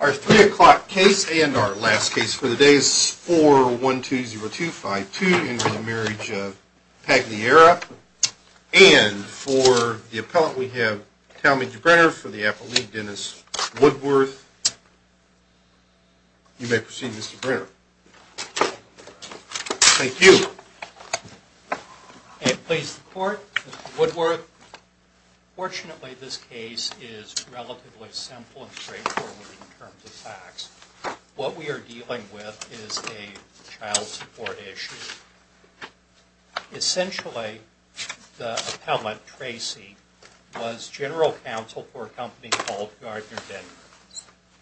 Our 3 o'clock case and our last case for the day is 4120252 in re. the Marriage of Pagliara. And for the appellant we have Talmadge Brenner for the Appellate League, Dennis Woodworth. You may proceed Mr. Brenner. Thank you. Fortunately, this case is relatively simple and straightforward in terms of facts. What we are dealing with is a child support issue. Essentially, the appellant, Tracy, was general counsel for a company called Gardner-Denver.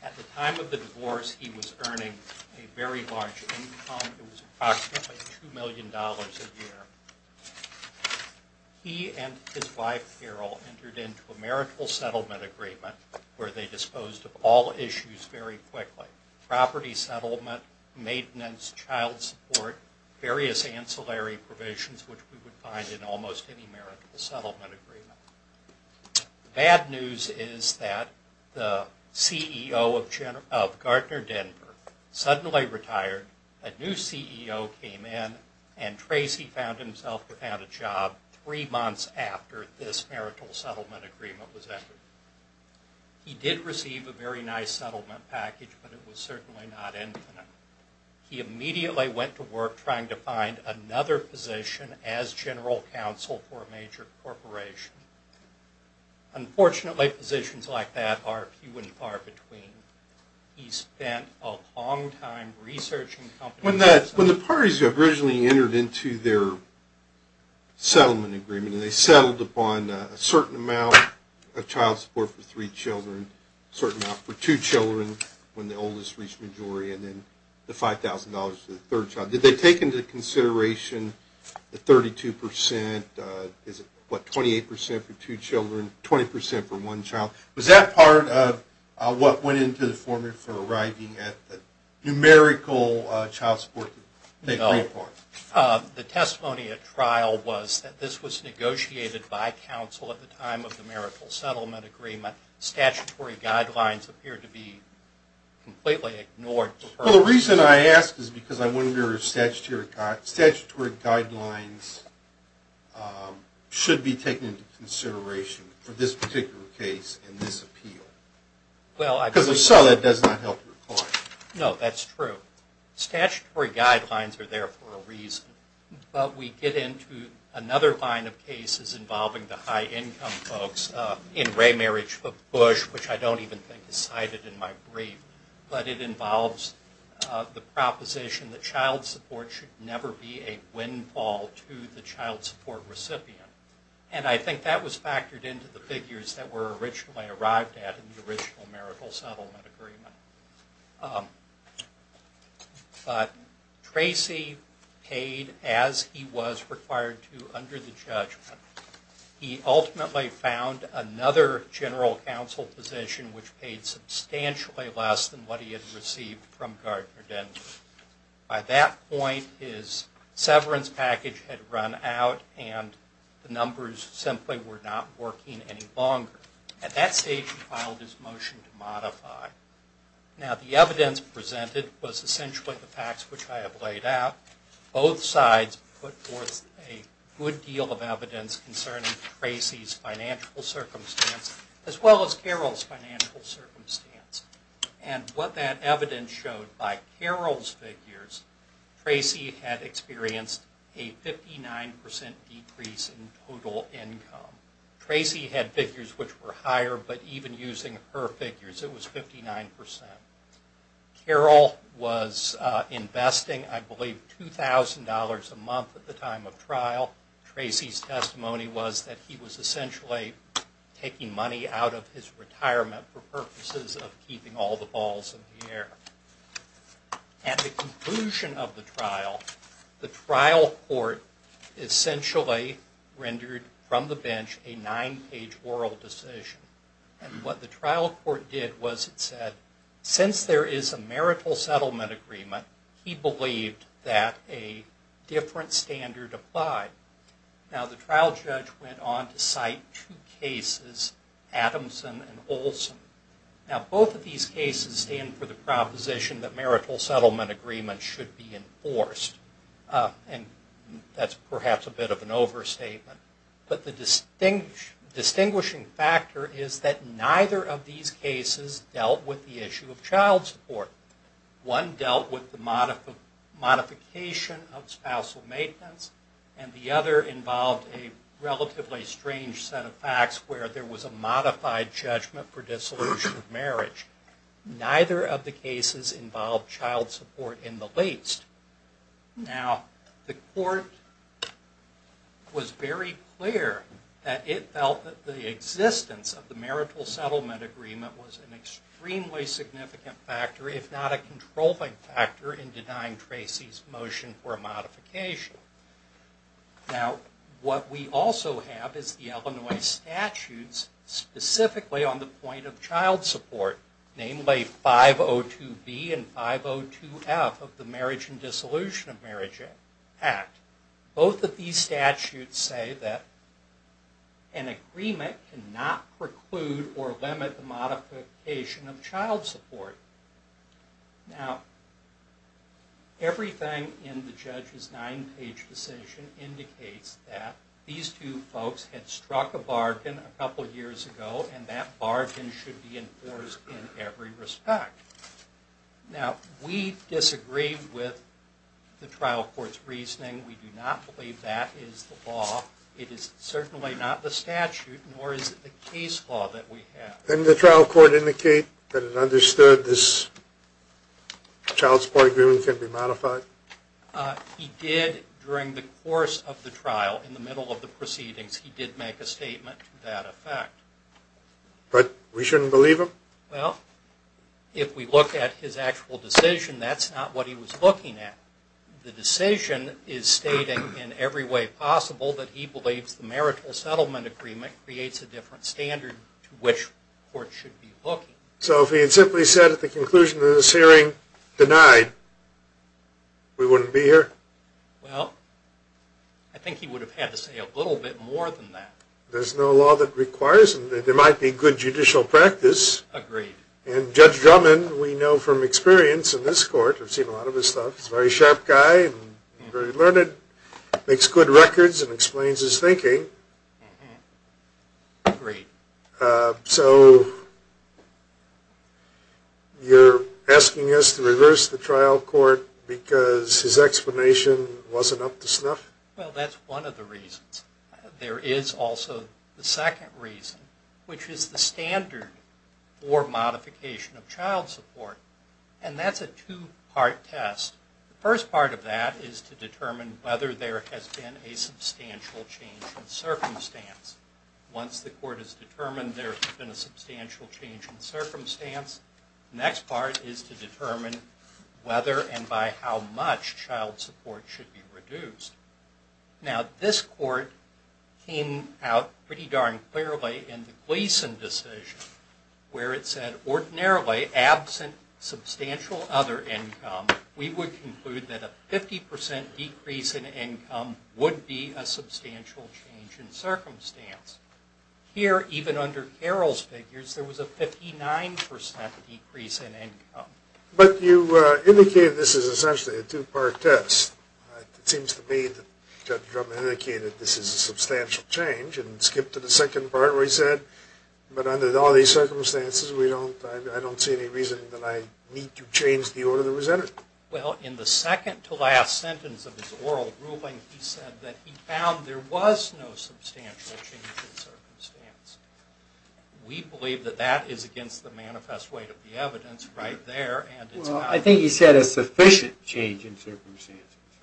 At the time of the divorce, he was earning a very large income. It was approximately $2 million a year. He and his wife, Carol, entered into a marital settlement agreement where they disposed of all issues very quickly. Property settlement, maintenance, child support, various ancillary provisions which we would find in almost any marital settlement agreement. The bad news is that the CEO of Gardner-Denver suddenly retired. A new CEO came in and Tracy found himself without a job three months after this marital settlement agreement was entered. He did receive a very nice settlement package, but it was certainly not infinite. He immediately went to work trying to find another position as general counsel for a major corporation. Unfortunately, positions like that are few and far between. He spent a long time researching companies... When the parties originally entered into their settlement agreement, they settled upon a certain amount of child support for three children, a certain amount for two children when the oldest reached majority, and then the $5,000 for the third child. Did they take into consideration the 32 percent? Is it, what, 28 percent for two children, 20 percent for one child? Was that part of what went into the formula for arriving at the numerical child support they agreed upon? No. The testimony at trial was that this was negotiated by counsel at the time of the marital settlement agreement. Statutory guidelines appear to be completely ignored. Well, the reason I ask is because I wonder if statutory guidelines should be taken into consideration for this particular case and this appeal. Because if so, that does not help your client. No, that's true. Statutory guidelines are there for a reason. But we get into another line of cases involving the high-income folks in Raymarriage v. Bush, which I don't even think is cited in my brief. But it involves the proposition that child support should never be a windfall to the child support recipient. And I think that was factored into the figures that were originally arrived at in the original marital settlement agreement. But Tracy paid as he was required to under the judgment. He ultimately found another general counsel position which paid substantially less than what he had received from Gardner Denton. By that point, his severance package had run out and the numbers simply were not working any longer. At that stage, he filed his motion to modify. Now, the evidence presented was essentially the facts which I have laid out. Both sides put forth a good deal of evidence concerning Tracy's financial circumstance as well as Carol's financial circumstance. And what that evidence showed by Carol's figures, Tracy had experienced a 59% decrease in total income. Tracy had figures which were higher, but even using her figures, it was 59%. Carol was investing, I believe, $2,000 a month at the time of trial. Tracy's testimony was that he was essentially taking money out of his retirement for purposes of keeping all the balls in the air. At the conclusion of the trial, the trial court essentially rendered from the bench a nine-page oral decision. And what the trial court did was it said, since there is a marital settlement agreement, he believed that a different standard applied. Now, the trial judge went on to cite two cases, Adamson and Olson. Now, both of these cases stand for the proposition that marital settlement agreements should be enforced. And that's perhaps a bit of an overstatement. But the distinguishing factor is that neither of these cases dealt with the issue of child support. One dealt with the modification of spousal maintenance. And the other involved a relatively strange set of facts where there was a modified judgment for dissolution of marriage. Neither of the cases involved child support in the least. Now, the court was very clear that it felt that the existence of the marital settlement agreement was an extremely significant factor, if not a controlling factor, in denying Tracy's motion for a modification. Now, what we also have is the Illinois statutes specifically on the point of child support. Namely, 502B and 502F of the Marriage and Dissolution of Marriage Act. Both of these statutes say that an agreement cannot preclude or limit the modification of child support. Now, everything in the judge's nine-page decision indicates that these two folks had struck a bargain a couple years ago, and that bargain should be enforced in every respect. Now, we disagree with the trial court's reasoning. We do not believe that is the law. It is certainly not the statute, nor is it the case law that we have. Didn't the trial court indicate that it understood this child support agreement can be modified? He did during the course of the trial. In the middle of the proceedings, he did make a statement to that effect. But we shouldn't believe him? Well, if we look at his actual decision, that's not what he was looking at. The decision is stating in every way possible that he believes the marital settlement agreement creates a different standard to which courts should be looking. So if he had simply said at the conclusion of this hearing, denied, we wouldn't be here? Well, I think he would have had to say a little bit more than that. There's no law that requires him. There might be good judicial practice. Agreed. And Judge Drummond, we know from experience in this court, we've seen a lot of his stuff, he's a very sharp guy and very learned, makes good records and explains his thinking. Agreed. So you're asking us to reverse the trial court because his explanation wasn't up to snuff? Well, that's one of the reasons. There is also the second reason, which is the standard for modification of child support. And that's a two-part test. The first part of that is to determine whether there has been a substantial change in circumstance. Once the court has determined there has been a substantial change in circumstance, the next part is to determine whether and by how much child support should be reduced. Now, this court came out pretty darn clearly in the Gleason decision, where it said ordinarily absent substantial other income, we would conclude that a 50% decrease in income would be a substantial change in circumstance. Here, even under Carroll's figures, there was a 59% decrease in income. But you indicated this is essentially a two-part test. It seems to me that Judge Drummond indicated this is a substantial change and skipped to the second part where he said, but under all these circumstances, I don't see any reason that I need to change the order that was entered. Well, in the second to last sentence of his oral ruling, he said that he found there was no substantial change in circumstance. We believe that that is against the manifest weight of the evidence right there. Well, I think he said a sufficient change in circumstance.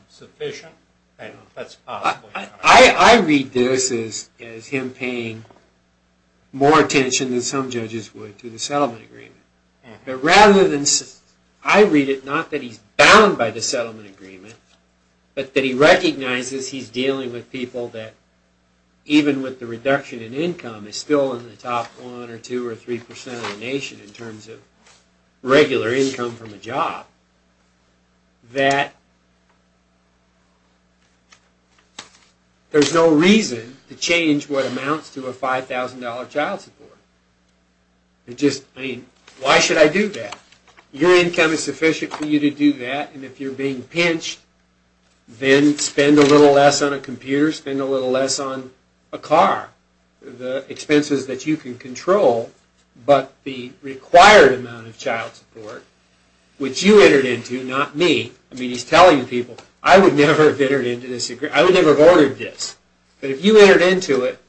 Sufficient? I don't know if that's possible. I read this as him paying more attention than some judges would to the settlement agreement. But rather than, I read it not that he's bound by the settlement agreement, but that he recognizes he's dealing with people that, even with the reduction in income, is still in the top 1% or 2% or 3% of the nation in terms of regular income from a job, that there's no reason to change what amounts to a $5,000 child support. Why should I do that? Your income is sufficient for you to do that, and if you're being pinched, then spend a little less on a computer, spend a little less on a car. The expenses that you can control, but the required amount of child support, which you entered into, not me. I mean, he's telling people, I would never have entered into this agreement. I would never have ordered this. But if you entered into it,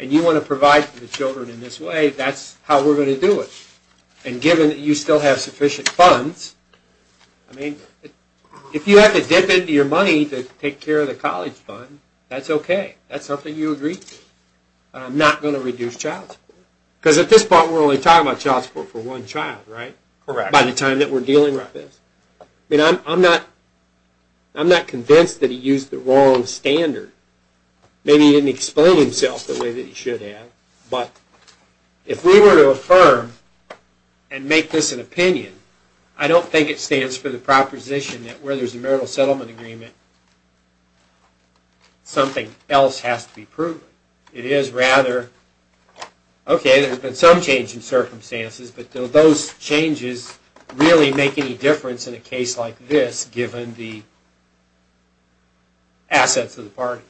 and you want to provide for the children in this way, that's how we're going to do it. And given that you still have sufficient funds, I mean, if you have to dip into your money to take care of the college fund, that's okay. That's something you agreed to. I'm not going to reduce child support. Because at this point we're only talking about child support for one child, right? Correct. By the time that we're dealing with this. I mean, I'm not convinced that he used the wrong standard. Maybe he didn't explain himself the way that he should have, but if we were to affirm and make this an opinion, I don't think it stands for the proposition that where there's a marital settlement agreement, something else has to be proven. It is rather, okay, there's been some change in circumstances, but do those changes really make any difference in a case like this, given the assets of the parties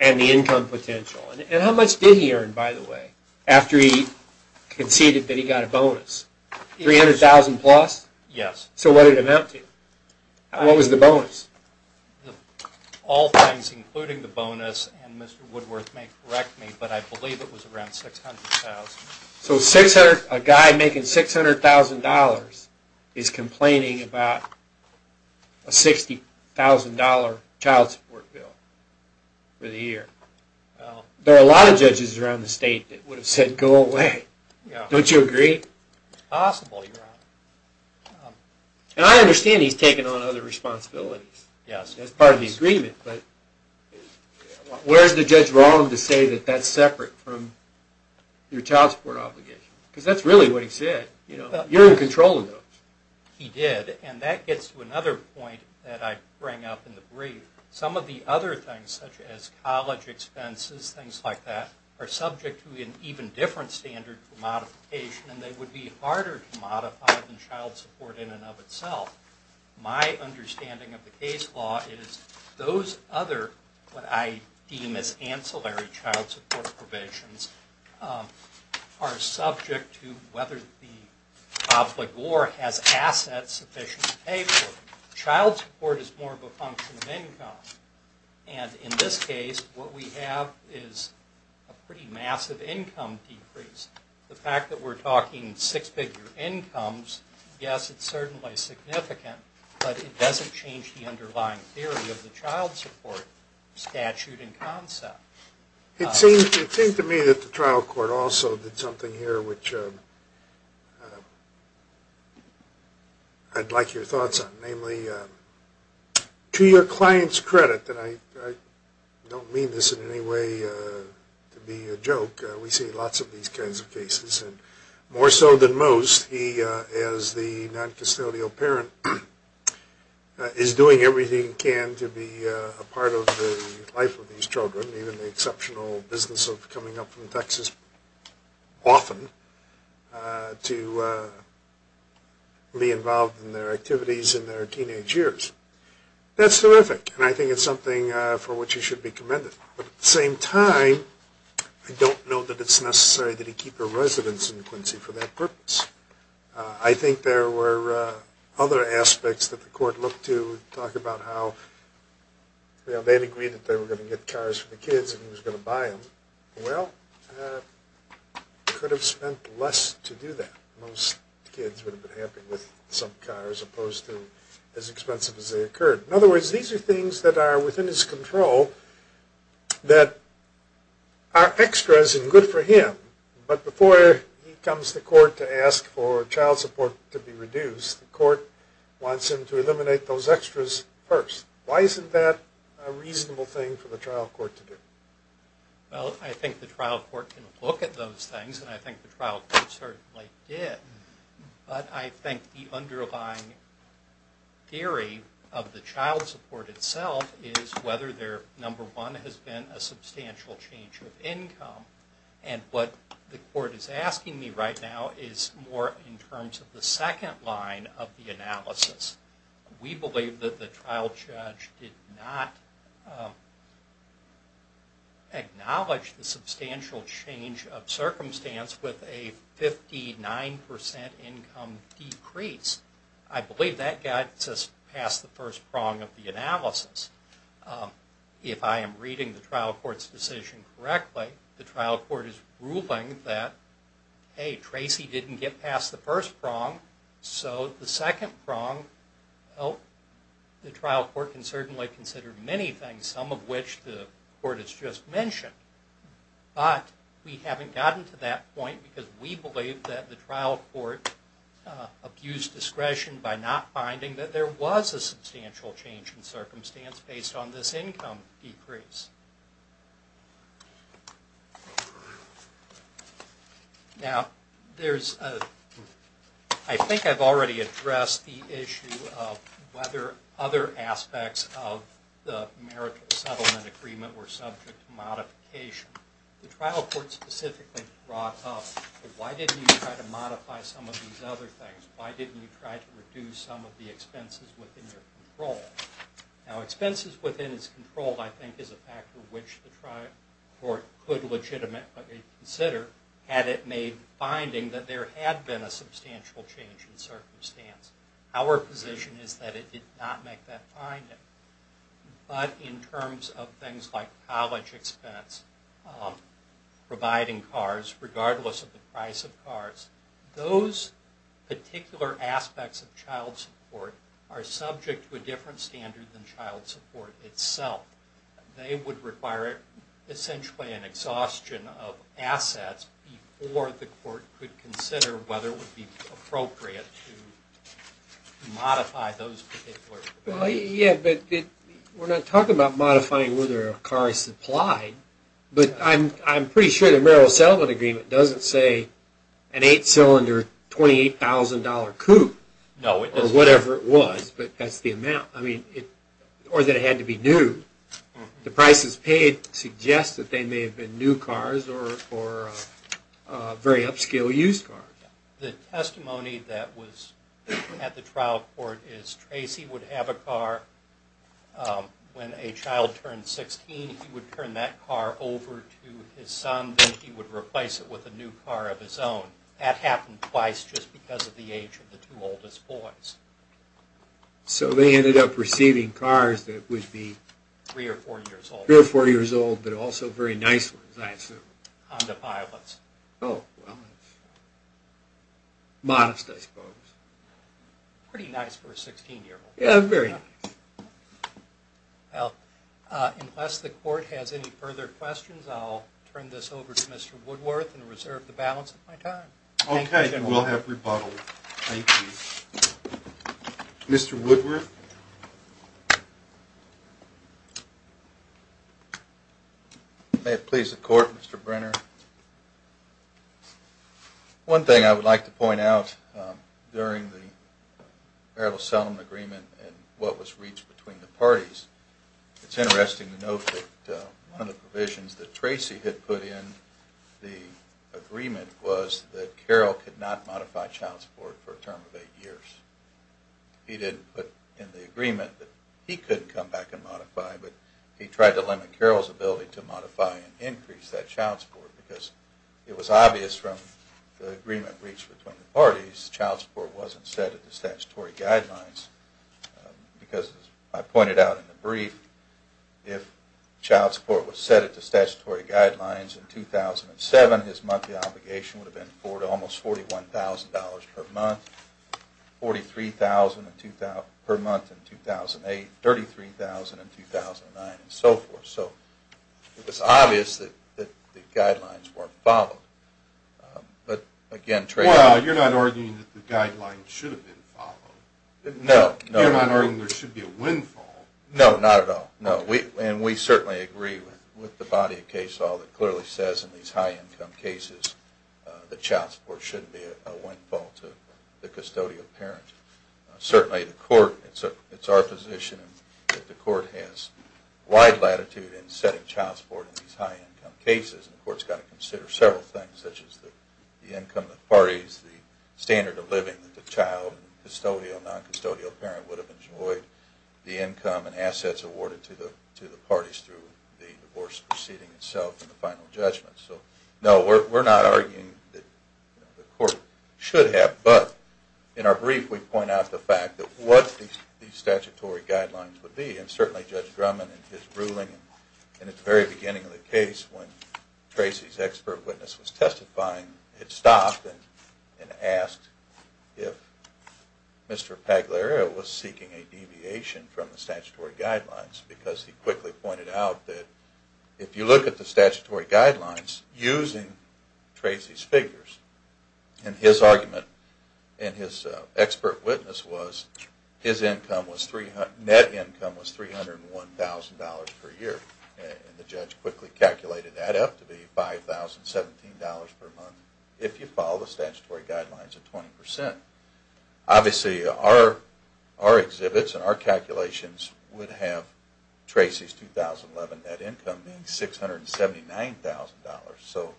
and the income potential? And how much did he earn, by the way, after he conceded that he got a bonus? $300,000 plus? Yes. So what did it amount to? What was the bonus? All things including the bonus, and Mr. Woodworth may correct me, but I believe it was around $600,000. So a guy making $600,000 is complaining about a $60,000 child support bill for the year. There are a lot of judges around the state that would have said, go away. Don't you agree? It's possible, Your Honor. And I understand he's taken on other responsibilities as part of the agreement, but where's the judge wrong to say that that's separate from your child support obligation? Because that's really what he said. You're in control of those. He did, and that gets to another point that I bring up in the brief. Some of the other things, such as college expenses, things like that, are subject to an even different standard for modification, and they would be harder to modify than child support in and of itself. My understanding of the case law is those other, what I deem as ancillary child support provisions, are subject to whether the obligor has assets sufficient to pay for them. Child support is more of a function of income, and in this case, what we have is a pretty massive income decrease. The fact that we're talking six-figure incomes, yes, it's certainly significant, but it doesn't change the underlying theory of the child support statute and concept. It seems to me that the trial court also did something here which I'd like your thoughts on, namely, to your client's credit, and I don't mean this in any way to be a joke. We see lots of these kinds of cases, and more so than most, he, as the noncustodial parent, is doing everything he can to be a part of the life of these children, even the exceptional business of coming up from Texas often, to be involved in their activities in their teenage years. That's terrific, and I think it's something for which he should be commended. But at the same time, I don't know that it's necessary that he keep a residence in Quincy for that purpose. I think there were other aspects that the court looked to, talk about how they had agreed that they were going to get cars for the kids and he was going to buy them. Well, he could have spent less to do that. Most kids would have been happy with some cars as opposed to as expensive as they occurred. In other words, these are things that are within his control that are extras and good for him, but before he comes to court to ask for child support to be reduced, the court wants him to eliminate those extras first. Why isn't that a reasonable thing for the trial court to do? Well, I think the trial court can look at those things, and I think the trial court certainly did. But I think the underlying theory of the child support itself is whether there, number one, has been a substantial change of income. And what the court is asking me right now is more in terms of the second line of the analysis. We believe that the trial judge did not acknowledge the substantial change of circumstance with a 59% income decrease. I believe that got us past the first prong of the analysis. If I am reading the trial court's decision correctly, the trial court is ruling that, hey, Tracy didn't get past the first prong, so the second prong, well, the trial court can certainly consider many things, some of which the court has just mentioned. But we haven't gotten to that point because we believe that the trial court abused discretion by not finding that there was a substantial change in circumstance based on this income decrease. Now, I think I've already addressed the issue of whether other aspects of the marital settlement agreement were subject to modification. The trial court specifically brought up, well, why didn't you try to modify some of these other things? Why didn't you try to reduce some of the expenses within your control? Now, expenses within its control, I think, is a factor which the trial court could legitimately consider had it made the finding that there had been a substantial change in circumstance. Our position is that it did not make that finding. But in terms of things like college expense, providing cars regardless of the price of cars, those particular aspects of child support are subject to a different standard than child support itself. They would require essentially an exhaustion of assets before the court could consider whether it would be appropriate to modify those particular values. Yeah, but we're not talking about modifying whether a car is supplied, but I'm pretty sure the marital settlement agreement doesn't say an 8-cylinder, $28,000 coupe or whatever it was, but that's the amount, or that it had to be new. The prices paid suggest that they may have been new cars or very upscale used cars. The testimony that was at the trial court is Tracy would have a car when a child turned 16. He would turn that car over to his son, and he would replace it with a new car of his own. That happened twice, just because of the age of the two oldest boys. So they ended up receiving cars that would be three or four years old, but also very nice ones, I assume. Honda Pilots. Oh, well, modest, I suppose. Pretty nice for a 16-year-old. Yeah, very nice. Well, unless the court has any further questions, I'll turn this over to Mr. Woodworth and reserve the balance of my time. Okay, you will have rebuttal. Thank you. Mr. Woodworth? May it please the court, Mr. Brenner. One thing I would like to point out, during the Barrett v. Sullivan agreement and what was reached between the parties, it's interesting to note that one of the provisions that Tracy had put in the agreement was that Carroll could not modify child support for a term of eight years. He didn't put in the agreement that he could come back and modify, but he tried to limit Carroll's ability to modify and increase that child support. Because it was obvious from the agreement reached between the parties, child support wasn't set at the statutory guidelines. Because as I pointed out in the brief, if child support was set at the statutory guidelines in 2007, his monthly obligation would have been almost $41,000 per month, $43,000 per month in 2008, $33,000 in 2009, and so forth. So it was obvious that the guidelines weren't followed. Well, you're not arguing that the guidelines should have been followed. No, no. You're not arguing there should be a windfall. No, not at all. And we certainly agree with the body of case law that clearly says in these high-income cases that child support shouldn't be a windfall to the custodial parent. Certainly the court – it's our position that the court has wide latitude in setting child support in these high-income cases. The court's got to consider several things, such as the income of the parties, the standard of living that the child, custodial, non-custodial parent would have enjoyed, the income and assets awarded to the parties through the divorce proceeding itself and the final judgment. So no, we're not arguing that the court should have. But in our brief, we point out the fact that what these statutory guidelines would be. And certainly Judge Drummond in his ruling in the very beginning of the case when Tracy's expert witness was testifying, it stopped and asked if Mr. Pagliario was seeking a deviation from the statutory guidelines, because he quickly pointed out that if you look at the statutory guidelines using Tracy's figures, and his argument and his expert witness was his net income was $301,000 per year. And the judge quickly calculated that up to be $5,017 per month if you follow the statutory guidelines of 20%. Obviously, our exhibits and our calculations would have Tracy's 2011 net income being $679,000. So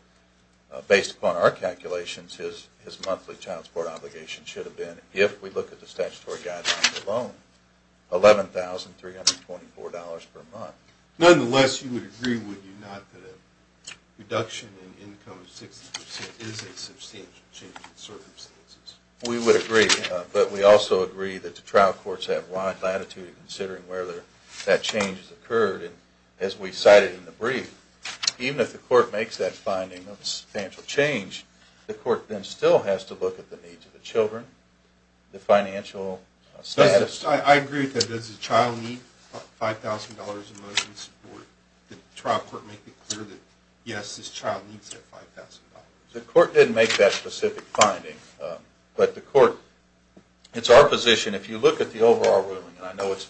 based upon our calculations, his monthly child support obligation should have been, if we look at the statutory guidelines alone, $11,324 per month. Nonetheless, you would agree, would you not, that a reduction in income of 60% is a substantial change in circumstances? We would agree, but we also agree that the trial courts have wide latitude in considering whether that change has occurred. And as we cited in the brief, even if the court makes that finding of a substantial change, the court then still has to look at the needs of the children, the financial status. I agree with that. Does the child need $5,000 in motion support? Did the trial court make it clear that, yes, this child needs that $5,000? The court didn't make that specific finding, but the court – it's our position, if you look at the overall ruling, and I know it's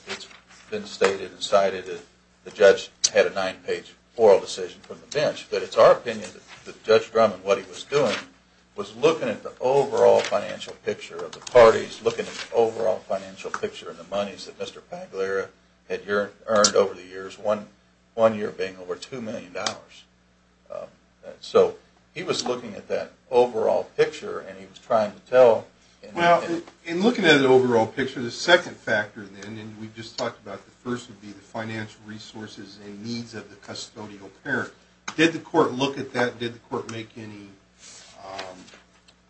been stated and cited that the judge had a nine-page oral decision from the bench, but it's our opinion that Judge Drummond, what he was doing, was looking at the overall financial picture of the parties, looking at the overall financial picture of the monies that Mr. Pagliara had earned over the years, one year being over $2 million. So he was looking at that overall picture, and he was trying to tell – Well, in looking at the overall picture, the second factor then, and we just talked about the first, would be the financial resources and needs of the custodial parent. Did the court look at that? Did the court make any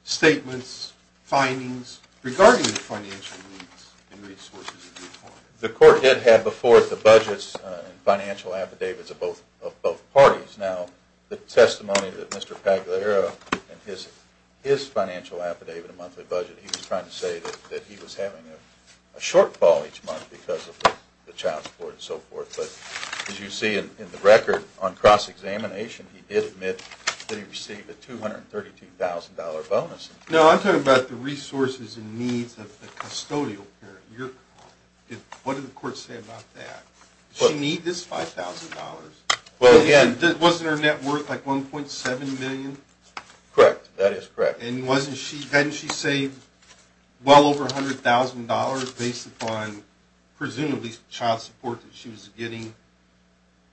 statements, findings, regarding the financial needs and resources? The court did have before the budgets and financial affidavits of both parties. Now, the testimony that Mr. Pagliara in his financial affidavit and monthly budget, he was trying to say that he was having a shortfall each month because of the child support and so forth. But as you see in the record, on cross-examination, he did admit that he received a $232,000 bonus. Now, I'm talking about the resources and needs of the custodial parent. What did the court say about that? She needs this $5,000. Wasn't her net worth like $1.7 million? Correct. That is correct. And hadn't she saved well over $100,000 based upon presumably child support that she was getting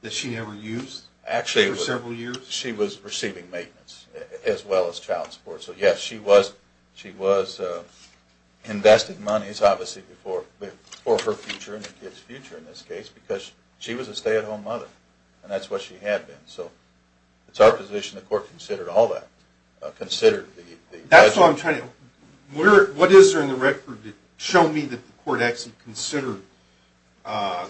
that she never used for several years? She was receiving maintenance as well as child support. So yes, she was investing money, obviously, for her future and the kid's future in this case because she was a stay-at-home mother. And that's what she had been. So it's our position the court considered all that. That's what I'm trying to – what is there in the record to show me that the court actually considered the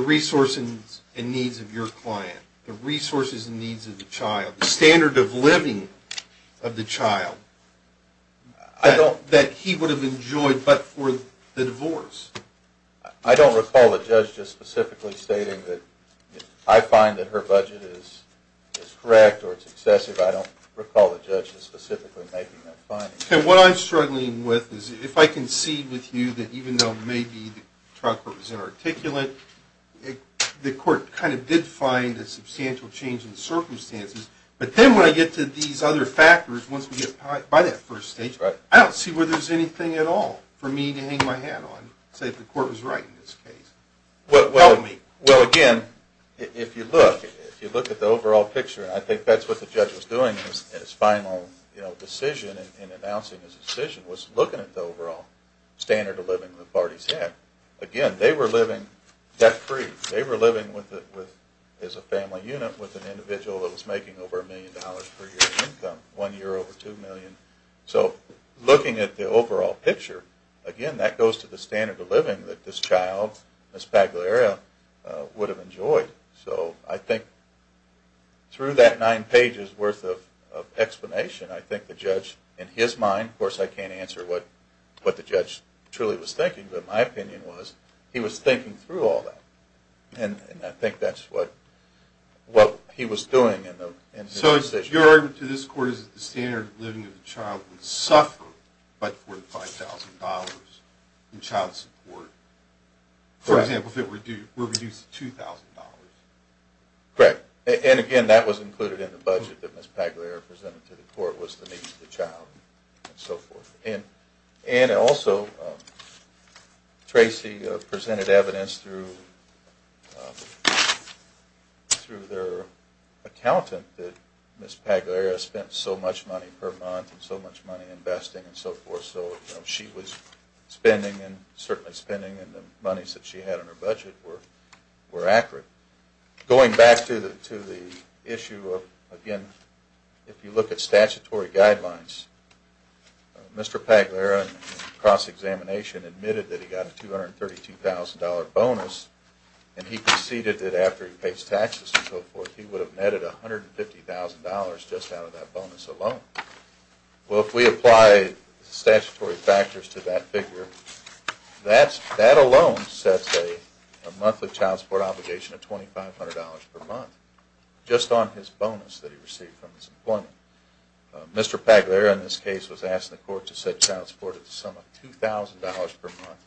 resources and needs of your client, the resources and needs of the child, the standard of living of the child that he would have enjoyed but for the divorce? I don't recall the judge just specifically stating that I find that her budget is correct or it's excessive. I don't recall the judge just specifically making that finding. What I'm struggling with is if I concede with you that even though maybe the child court was inarticulate, the court kind of did find a substantial change in the circumstances. But then when I get to these other factors, once we get by that first stage, I don't see where there's anything at all for me to hang my hat on and say the court was right in this case. Well, again, if you look at the overall picture, I think that's what the judge was doing in his final decision in announcing his decision was looking at the overall standard of living the parties had. Again, they were living debt-free. They were living as a family unit with an individual that was making over a million dollars per year in income, one year over two million. So looking at the overall picture, again, that goes to the standard of living that this child, Ms. Pagliaria, would have enjoyed. So I think through that nine pages worth of explanation, I think the judge in his mind, of course I can't answer what the judge truly was thinking, but my opinion was he was thinking through all that. And I think that's what he was doing in his decision. Your argument to this court is that the standard of living of the child would suffer by $45,000 in child support. For example, if it were reduced to $2,000. Correct. And again, that was included in the budget that Ms. Pagliaria presented to the court was the need for the child and so forth. And also, Tracy presented evidence through their accountant that Ms. Pagliaria spent so much money per month and so much money investing and so forth, so she was spending and certainly spending and the monies that she had in her budget were accurate. Going back to the issue of, again, if you look at statutory guidelines, Mr. Pagliaria in cross-examination admitted that he got a $232,000 bonus and he conceded that after he pays taxes and so forth, he would have netted $150,000 just out of that bonus alone. Well, if we apply statutory factors to that figure, that alone sets a monthly child support obligation of $2,500 per month just on his bonus that he received from his employment. Mr. Pagliaria in this case was asked in the court to set child support at the sum of $2,000 per month.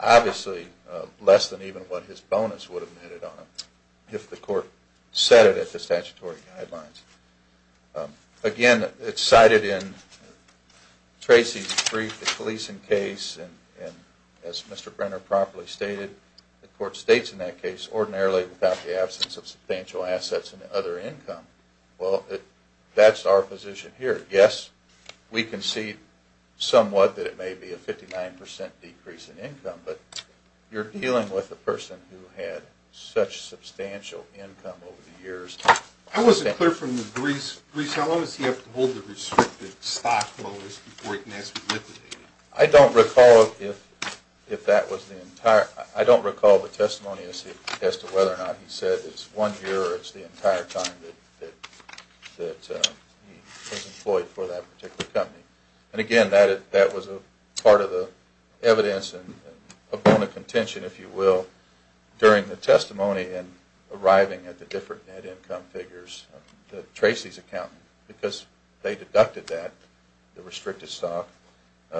Obviously, less than even what his bonus would have netted on him if the court set it at the statutory guidelines. Again, it's cited in Tracy's brief, the police in case, and as Mr. Brenner properly stated, the court states in that case, ordinarily without the absence of substantial increase in income, but you're dealing with a person who had such substantial income over the years. I wasn't clear from the brief, how long does he have to hold the restricted stock before it can be liquidated? I don't recall the testimony as to whether or not he said it's one year or it's the entire time that he was employed for that particular company. Again, that was a part of the evidence and a bone of contention, if you will, during the testimony and arriving at the different net income figures. Tracy's accountant, because they deducted that, the restricted stock,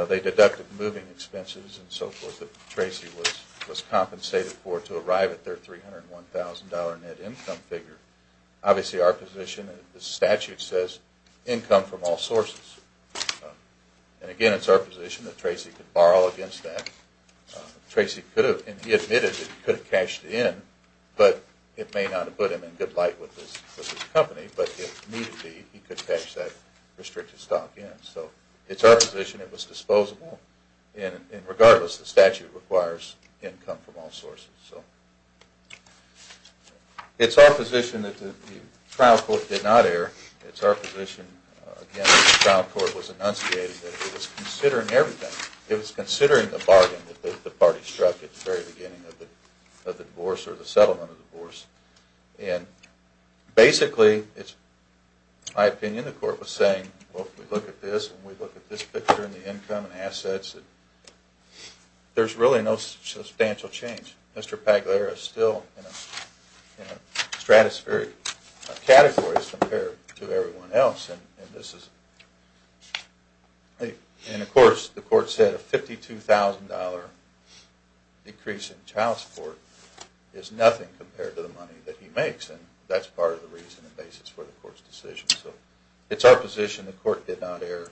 they deducted moving expenses and so forth that Tracy was compensated for to arrive at their $301,000 net income figure. Obviously, our position, the statute says income from all sources. And again, it's our position that Tracy could borrow against that. Tracy admitted that he could have cashed it in, but it may not have put him in good light with his company, but he could cash that restricted stock in. So it's our position it was disposable and regardless, the statute requires income from all sources. It's our position that the trial court did not err. It's our position, again, that the trial court was enunciated that it was considering everything. It was considering the bargain that the party struck at the very beginning of the divorce or the settlement of the divorce. And basically, my opinion, the court was saying, well, if we look at this and we look at this picture and the income and assets, there's really no substantial change. Mr. Pagliara is still in a stratospheric category compared to everyone else. And of course, the court said a $52,000 decrease in child support is nothing compared to the money that he makes, and that's part of the reason and basis for the court's decision. So it's our position the court did not err.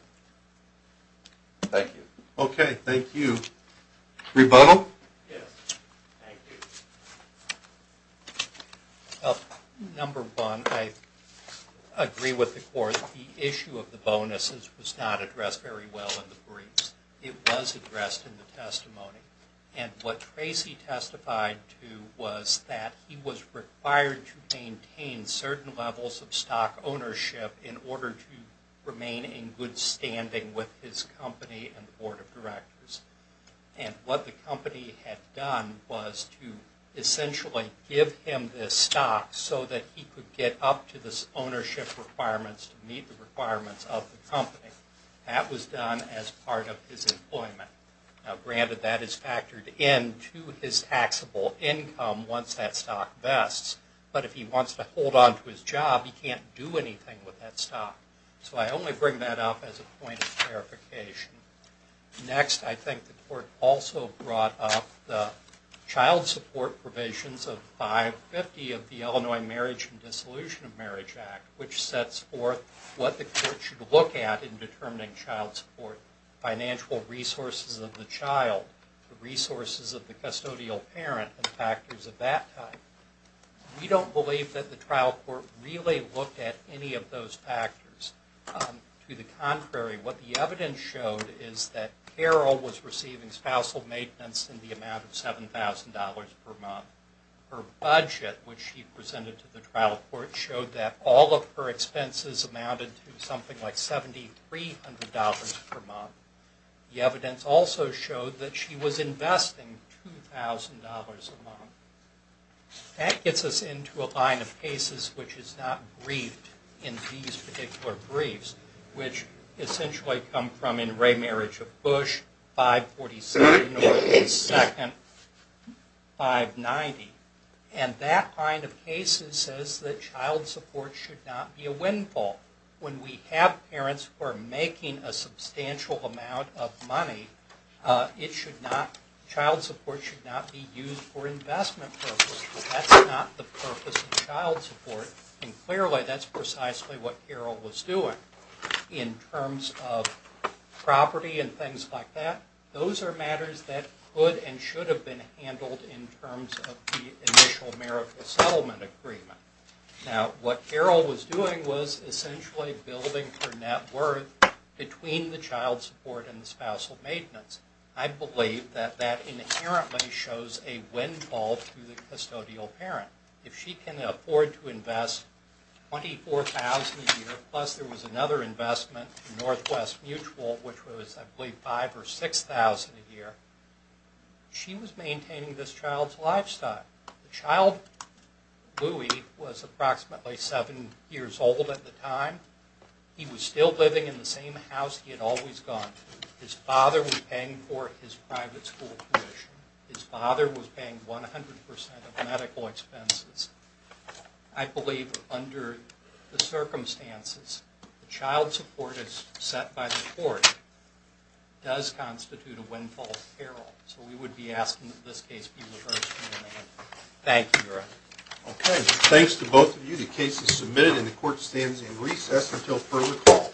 Thank you. Okay, thank you. Rebuttal? Number one, I agree with the court. The issue of the bonuses was not addressed very well in the briefs. It was addressed in the testimony. And what Tracy testified to was that he was required to maintain certain levels of stock ownership in order to remain in good standing with his company and board of directors. And what the company had done was to essentially give him this stock so that he could get up to this ownership requirements to meet the requirements of the company. That was done as part of his employment. Now, granted, that is factored into his taxable income once that stock vests. But if he wants to hold on to his job, he can't do anything with that stock. So I only bring that up as a point of clarification. Next, I think the court also brought up the child support provisions of 550 of the Illinois Marriage and Dissolution of Marriage Act, which sets forth what the court should look at in determining child support. Financial resources of the child, the resources of the custodial parent, and factors of that type. We don't believe that the trial court really looked at any of those factors. To the contrary, what the evidence showed is that Carol was receiving spousal maintenance in the amount of $7,000 per month. Her budget, which she presented to the trial court, showed that all of her expenses amounted to something like $7,300 per month. The evidence also showed that she was investing $2,000 a month. That gets us into a line of cases which is not briefed in these particular briefs, which essentially come from in Ray Marriage of Bush, 547 North and 2nd, 590. And that line of cases says that child support should not be a windfall. When we have parents who are making a substantial amount of money, child support should not be used for investment purposes. That's not the purpose of child support, and clearly that's precisely what Carol was doing. In terms of property and things like that, those are matters that could and should have been handled in terms of the initial marital settlement agreement. Now, what Carol was doing was essentially building her net worth between the child support and the spousal maintenance. I believe that that inherently shows a windfall to the custodial parent. If she can afford to invest $24,000 a year, plus there was another investment in Northwest Mutual, which was I believe $5,000 or $6,000 a year, she was maintaining this child's lifestyle. The child, Louie, was approximately seven years old at the time. He was still living in the same house he had always gone to. His father was paying for his private school tuition. His father was paying 100% of medical expenses. I believe under the circumstances, child support as set by the court does constitute a windfall to Carol. We would be asking that this case be reversed. Thank you, Your Honor. Okay. Thanks to both of you. The case is submitted and the court stands in recess until further call.